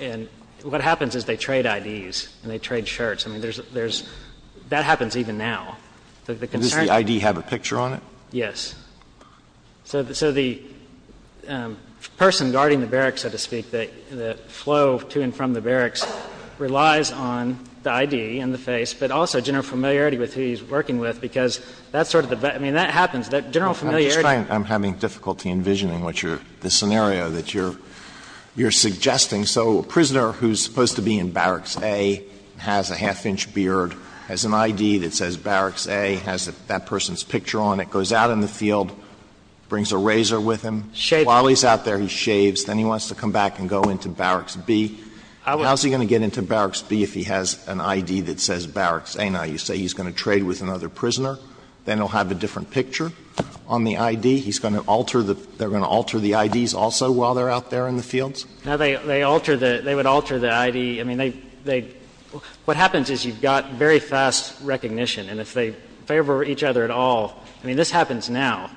And what happens is they trade IDs and they trade shirts. I mean, there's – that happens even now. Does the ID have a picture on it? So the person guarding the barracks, so to speak, the flow to and from the barracks relies on the ID and the face, but also general familiarity with who he's working with, because that's sort of the – I mean, that happens. General familiarity. I'm having difficulty envisioning what you're – the scenario that you're suggesting. So a prisoner who's supposed to be in Barracks A has a half-inch beard, has an ID that says Barracks A, has that person's picture on it, goes out in the field, brings a razor with him. Shave. While he's out there, he shaves. Then he wants to come back and go into Barracks B. How is he going to get into Barracks B if he has an ID that says Barracks A? Now, you say he's going to trade with another prisoner. Then he'll have a different picture on the ID. He's going to alter the – they're going to alter the IDs also while they're out there in the fields? Now, they alter the – they would alter the ID. I mean, they – what happens is you've got very fast recognition. And if they favor each other at all – I mean, this happens now,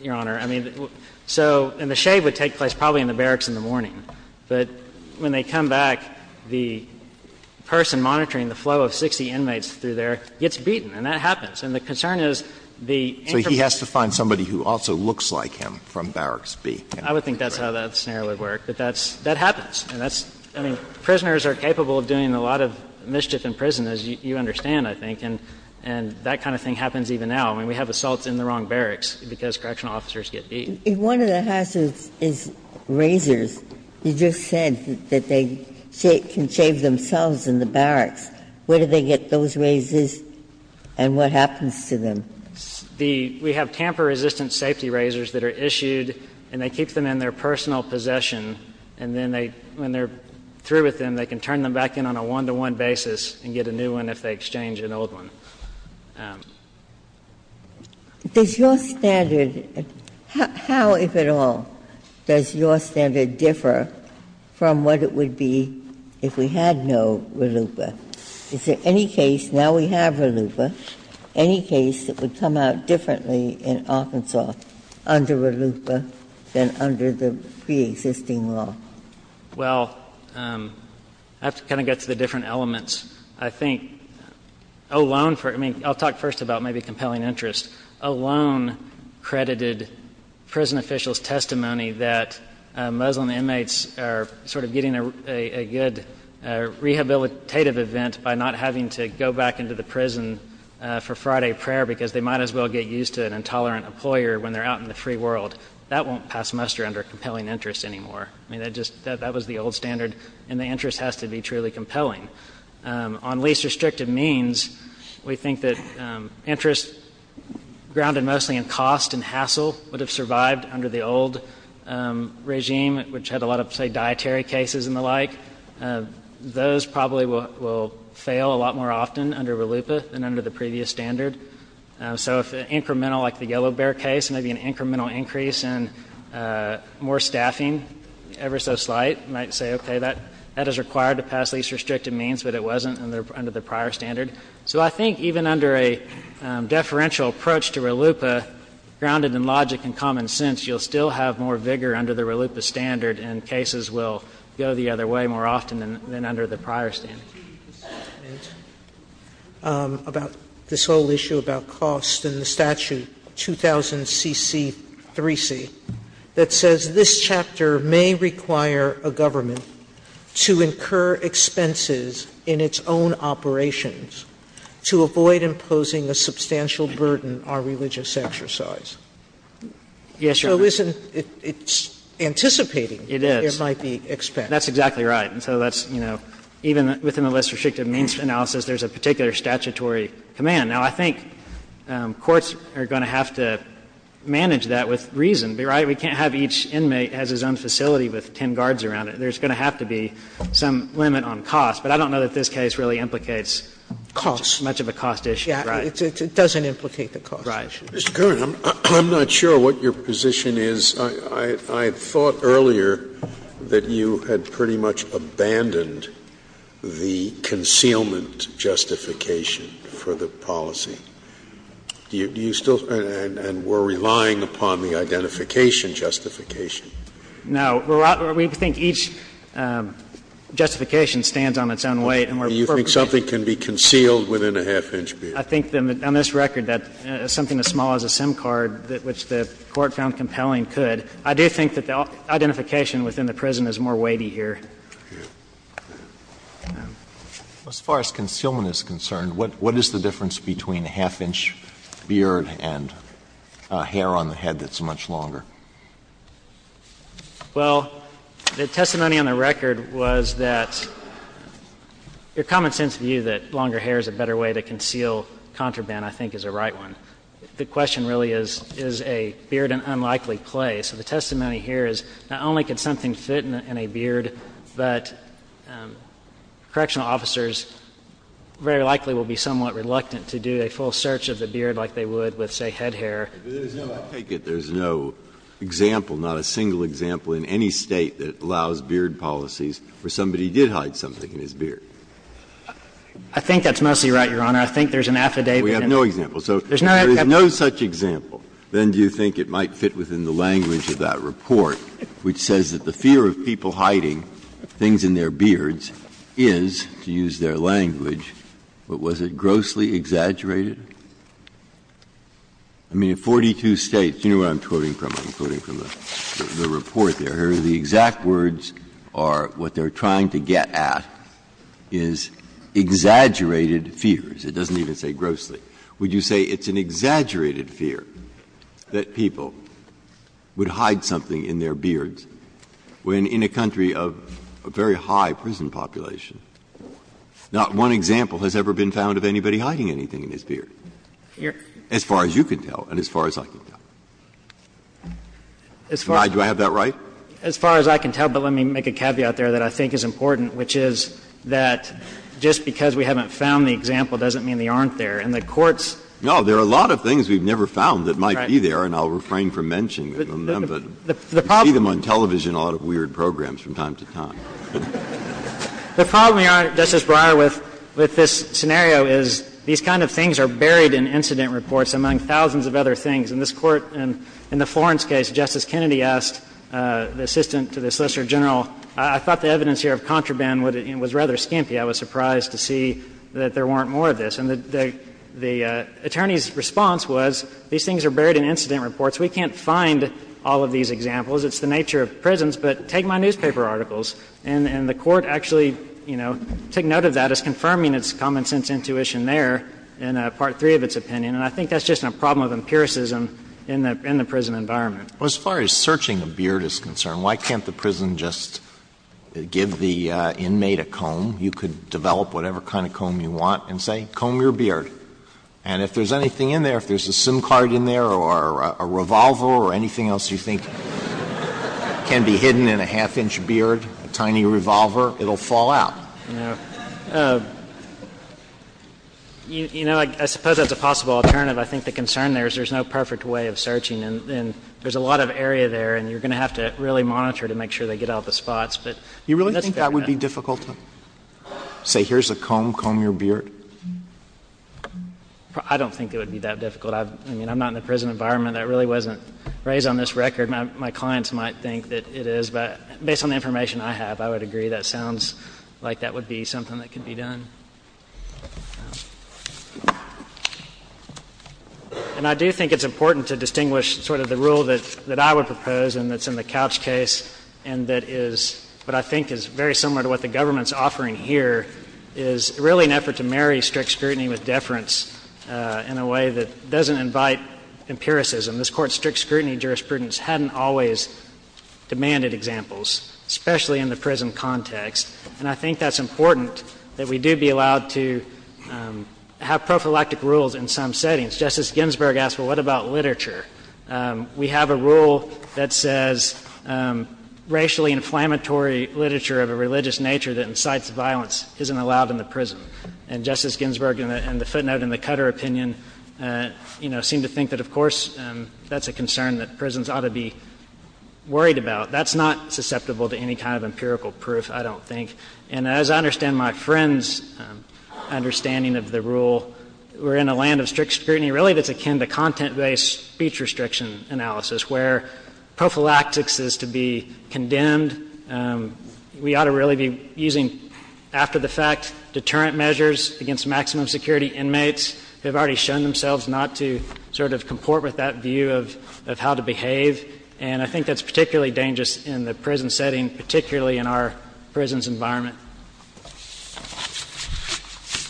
Your Honor. I mean, so – and the shave would take place probably in the barracks in the morning. But when they come back, the person monitoring the flow of 60 inmates through there gets beaten, and that happens. And the concern is the intermediate – So he has to find somebody who also looks like him from Barracks B. I would think that's how that scenario would work. But that's – that happens. And that's – I mean, prisoners are capable of doing a lot of mischief in prison, as you understand, I think. And that kind of thing happens even now. I mean, we have assaults in the wrong barracks because correctional officers get beat. If one of the hazards is razors, you just said that they can shave themselves in the barracks. Where do they get those razors, and what happens to them? The – we have tamper-resistant safety razors that are issued, and they keep them in their personal possession. And then they – when they're through with them, they can turn them back in on a one-to-one basis and get a new one if they exchange an old one. Ginsburg, does your standard – how, if at all, does your standard differ from what it would be if we had no RLUIPA? Is there any case – now we have RLUIPA – any case that would come out differently in Arkansas under RLUIPA than under the preexisting law? Well, I have to kind of get to the different elements. I think alone for – I mean, I'll talk first about maybe compelling interest. Alone credited prison officials' testimony that Muslim inmates are sort of getting a good rehabilitative event by not having to go back into the prison for Friday prayer because they might as well get used to an intolerant employer when they're out in the free world. That won't pass muster under compelling interest anymore. I mean, that just – that was the old standard. And the interest has to be truly compelling. On least restrictive means, we think that interest grounded mostly in cost and hassle would have survived under the old regime, which had a lot of, say, dietary cases and the like. Those probably will fail a lot more often under RLUIPA than under the previous standard. So if an incremental, like the Yellow Bear case, maybe an incremental increase in more that is required to pass least restrictive means, but it wasn't under the prior standard. So I think even under a deferential approach to RLUIPA, grounded in logic and common sense, you'll still have more vigor under the RLUIPA standard, and cases will go the other way more often than under the prior standard. Sotomayor, about this whole issue about cost and the statute 2000CC3C that says this chapter may require a government to incur expenses in its own operations to avoid imposing a substantial burden on religious exercise. Yes, Your Honor. So isn't it – it's anticipating there might be expense. That's exactly right. And so that's, you know, even within the least restrictive means analysis, there's a particular statutory command. Now, I think courts are going to have to manage that with reason, right? We can't have each inmate has his own facility with ten guards around it. There's going to have to be some limit on cost. But I don't know that this case really implicates much of a cost issue, right? Yeah, it doesn't implicate the cost issue. Mr. Kerr, I'm not sure what your position is. I thought earlier that you had pretty much abandoned the concealment justification for the policy. Do you still – and we're relying upon the identification justification? No. We think each justification stands on its own weight and we're— Do you think something can be concealed within a half-inch beard? I think on this record that something as small as a SIM card, which the Court found compelling, could. I do think that the identification within the prison is more weighty here. As far as concealment is concerned, what is the difference between a half-inch beard and hair on the head that's much longer? Well, the testimony on the record was that your common-sense view that longer hair is a better way to conceal contraband, I think, is a right one. The question really is, is a beard an unlikely play? So the testimony here is not only could something fit in a beard, but correctional officers very likely will be somewhat reluctant to do a full search of the beard like they would with, say, head hair. I take it there's no example, not a single example in any State that allows beard policies where somebody did hide something in his beard. I think that's mostly right, Your Honor. I think there's an affidavit in there. We have no example. There's no affidavit. Breyer, if you have an example, then do you think it might fit within the language of that report which says that the fear of people hiding things in their beards is, to use their language, but was it grossly exaggerated? I mean, in 42 States, you know what I'm quoting from? I'm quoting from the report there. The exact words are what they're trying to get at is exaggerated fears. It doesn't even say grossly. Would you say it's an exaggerated fear that people would hide something in their beards when in a country of a very high prison population, not one example has ever been found of anybody hiding anything in his beard, as far as you can tell and as far as I can tell? Do I have that right? As far as I can tell, but let me make a caveat there that I think is important, which is that just because we haven't found the example doesn't mean they aren't there. And the Court's ---- Breyer, there are a lot of things we've never found that might be there, and I'll refrain from mentioning them, but you see them on television, a lot of weird programs from time to time. The problem, Your Honor, Justice Breyer, with this scenario is these kind of things are buried in incident reports, among thousands of other things. In this Court, in the Florence case, Justice Kennedy asked the assistant to the Solicitor General, I thought the evidence here of contraband was rather skimpy. I was surprised to see that there weren't more of this. And the attorney's response was, these things are buried in incident reports. We can't find all of these examples. It's the nature of prisons, but take my newspaper articles. And the Court actually, you know, took note of that as confirming its common-sense intuition there in Part III of its opinion. And I think that's just a problem of empiricism in the prison environment. Alito, as far as searching a beard is concerned, why can't the prison just give the inmate a comb? You could develop whatever kind of comb you want and say, comb your beard. And if there's anything in there, if there's a SIM card in there or a revolver or anything else you think can be hidden in a half-inch beard, a tiny revolver, it will fall out. You know, I suppose that's a possible alternative. I think the concern there is there's no perfect way of searching. And there's a lot of area there, and you're going to have to really monitor to make sure they get out the spots. But that's fair enough. That would be difficult to say, here's a comb, comb your beard? I don't think it would be that difficult. I mean, I'm not in the prison environment. That really wasn't raised on this record. My clients might think that it is. But based on the information I have, I would agree that sounds like that would be something that could be done. And I do think it's important to distinguish sort of the rule that I would propose and that's in the Couch case and that is what I think is very similar to what the government's offering here is really an effort to marry strict scrutiny with deference in a way that doesn't invite empiricism. This Court's strict scrutiny jurisprudence hadn't always demanded examples, especially in the prison context. And I think that's important that we do be allowed to have prophylactic rules in some settings. Justice Ginsburg asked, well, what about literature? We have a rule that says racially inflammatory literature of a religious nature that incites violence isn't allowed in the prison. And Justice Ginsburg in the footnote in the Cutter opinion, you know, seemed to think that, of course, that's a concern that prisons ought to be worried about. That's not susceptible to any kind of empirical proof, I don't think. And as I understand my friend's understanding of the rule, we're in a land of strict speech restriction analysis where prophylactics is to be condemned. We ought to really be using after-the-fact deterrent measures against maximum security inmates who have already shown themselves not to sort of comport with that view of how to behave. And I think that's particularly dangerous in the prison setting, particularly in our prison's environment.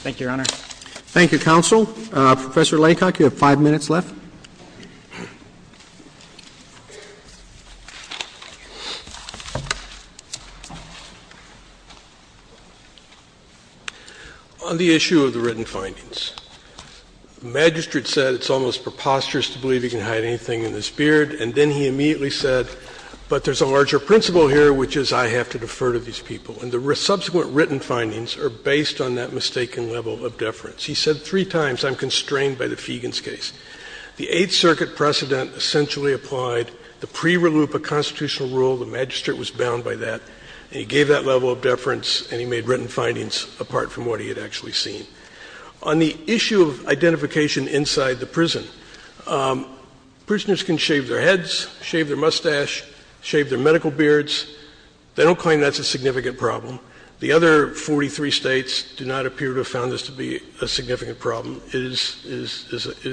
Thank you, Your Honor. Thank you, counsel. Professor Laycock, you have five minutes left. On the issue of the written findings, the magistrate said it's almost preposterous to believe he can hide anything in his beard, and then he immediately said, but there's a larger principle here, which is I have to defer to these people. And the subsequent written findings are based on that mistaken level of deference. He said three times I'm constrained by the Feigin's case. The Eighth Circuit precedent essentially applied the pre-reloop of constitutional rule, the magistrate was bound by that, and he gave that level of deference and he made written findings apart from what he had actually seen. On the issue of identification inside the prison, prisoners can shave their heads, shave their mustache, shave their medical beards. They don't claim that's a significant problem. The other 43 States do not appear to have found this to be a significant problem. It is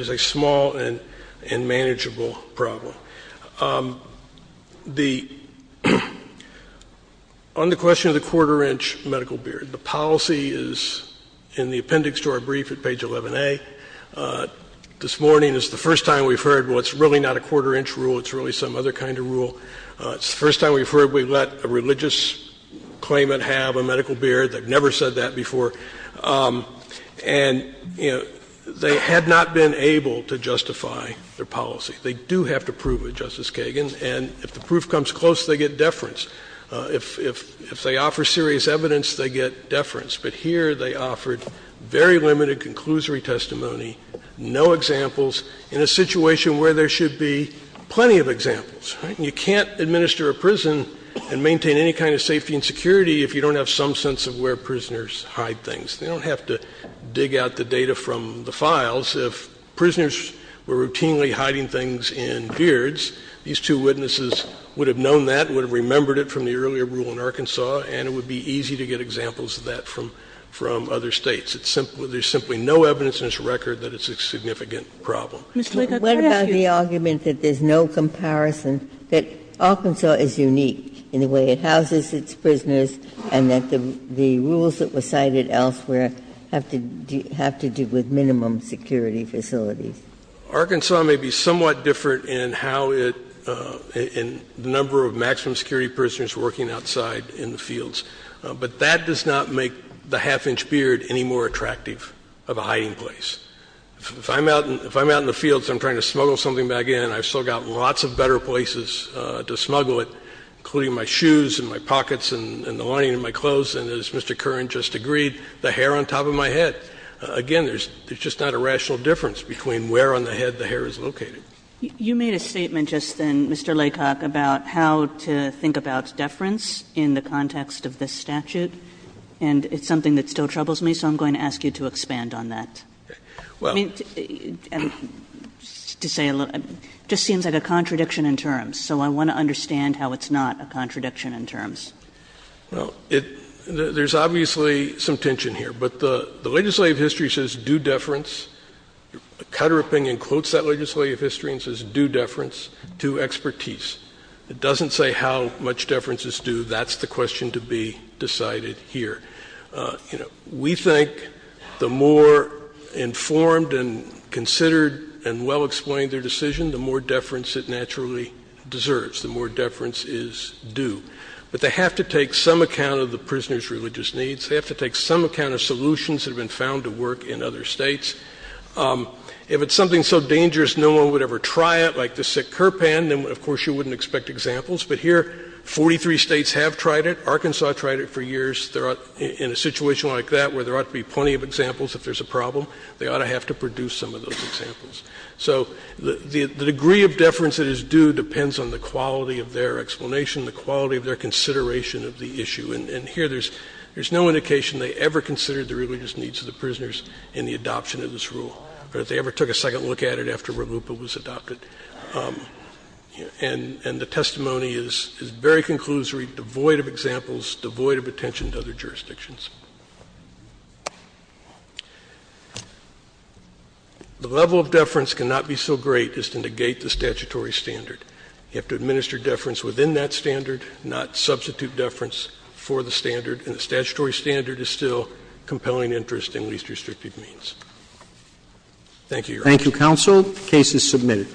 a small and manageable problem. The — on the question of the quarter-inch medical beard, the policy is in the appendix to our brief at page 11A. This morning is the first time we've heard, well, it's really not a quarter-inch rule, it's really some other kind of rule. It's the first time we've heard we let a religious claimant have a medical beard. They've never said that before. And, you know, they had not been able to justify their policy. They do have to prove it, Justice Kagan, and if the proof comes close, they get deference. If they offer serious evidence, they get deference. But here they offered very limited conclusory testimony, no examples, in a situation where there should be plenty of examples. You can't administer a prison and maintain any kind of safety and security if you don't have some sense of where prisoners hide things. They don't have to dig out the data from the files. If prisoners were routinely hiding things in beards, these two witnesses would have known that, would have remembered it from the earlier rule in Arkansas, and it would be easy to get examples of that from other States. There's simply no evidence in this record that it's a significant problem. Sotomayor, what about the argument that there's no comparison, that Arkansas is unique in the way it houses its prisoners, and that the rules that were cited elsewhere have to do with minimum security facilities? Arkansas may be somewhat different in how it, in the number of maximum security prisoners working outside in the fields, but that does not make the half-inch beard any more attractive of a hiding place. If I'm out in the fields and I'm trying to smuggle something back in, I've still got lots of better places to smuggle it, including my shoes and my pockets and the lining of my clothes, and as Mr. Curran just agreed, the hair on top of my head. Again, there's just not a rational difference between where on the head the hair is located. Kagan. You made a statement just then, Mr. Laycock, about how to think about deference in the context of this statute. And it's something that still troubles me, so I'm going to ask you to expand on that. I mean, to say a little bit, it just seems like a contradiction in terms, so I want to understand how it's not a contradiction in terms. Well, there's obviously some tension here, but the legislative history says due deference. Caterpillar includes that legislative history and says due deference to expertise. It doesn't say how much deference is due. That's the question to be decided here. We think the more informed and considered and well-explained their decision, the more deference it naturally deserves, the more deference is due. But they have to take some account of the prisoner's religious needs. They have to take some account of solutions that have been found to work in other states. If it's something so dangerous no one would ever try it, like the sick curpan, then of course you wouldn't expect examples. But here, 43 states have tried it. Arkansas tried it for years. In a situation like that, where there ought to be plenty of examples if there's a problem, they ought to have to produce some of those examples. So the degree of deference that is due depends on the quality of their explanation, the quality of their consideration of the issue. And here, there's no indication they ever considered the religious needs of the prisoners in the adoption of this rule. Or if they ever took a second look at it after RLUIPA was adopted. And the testimony is very conclusory, devoid of examples, devoid of attention to other jurisdictions. The level of deference cannot be so great as to negate the statutory standard. You have to administer deference within that standard, not substitute deference for the standard. And the statutory standard is still compelling interest in least restrictive means. Roberts. Roberts. Thank you, counsel. The case is submitted.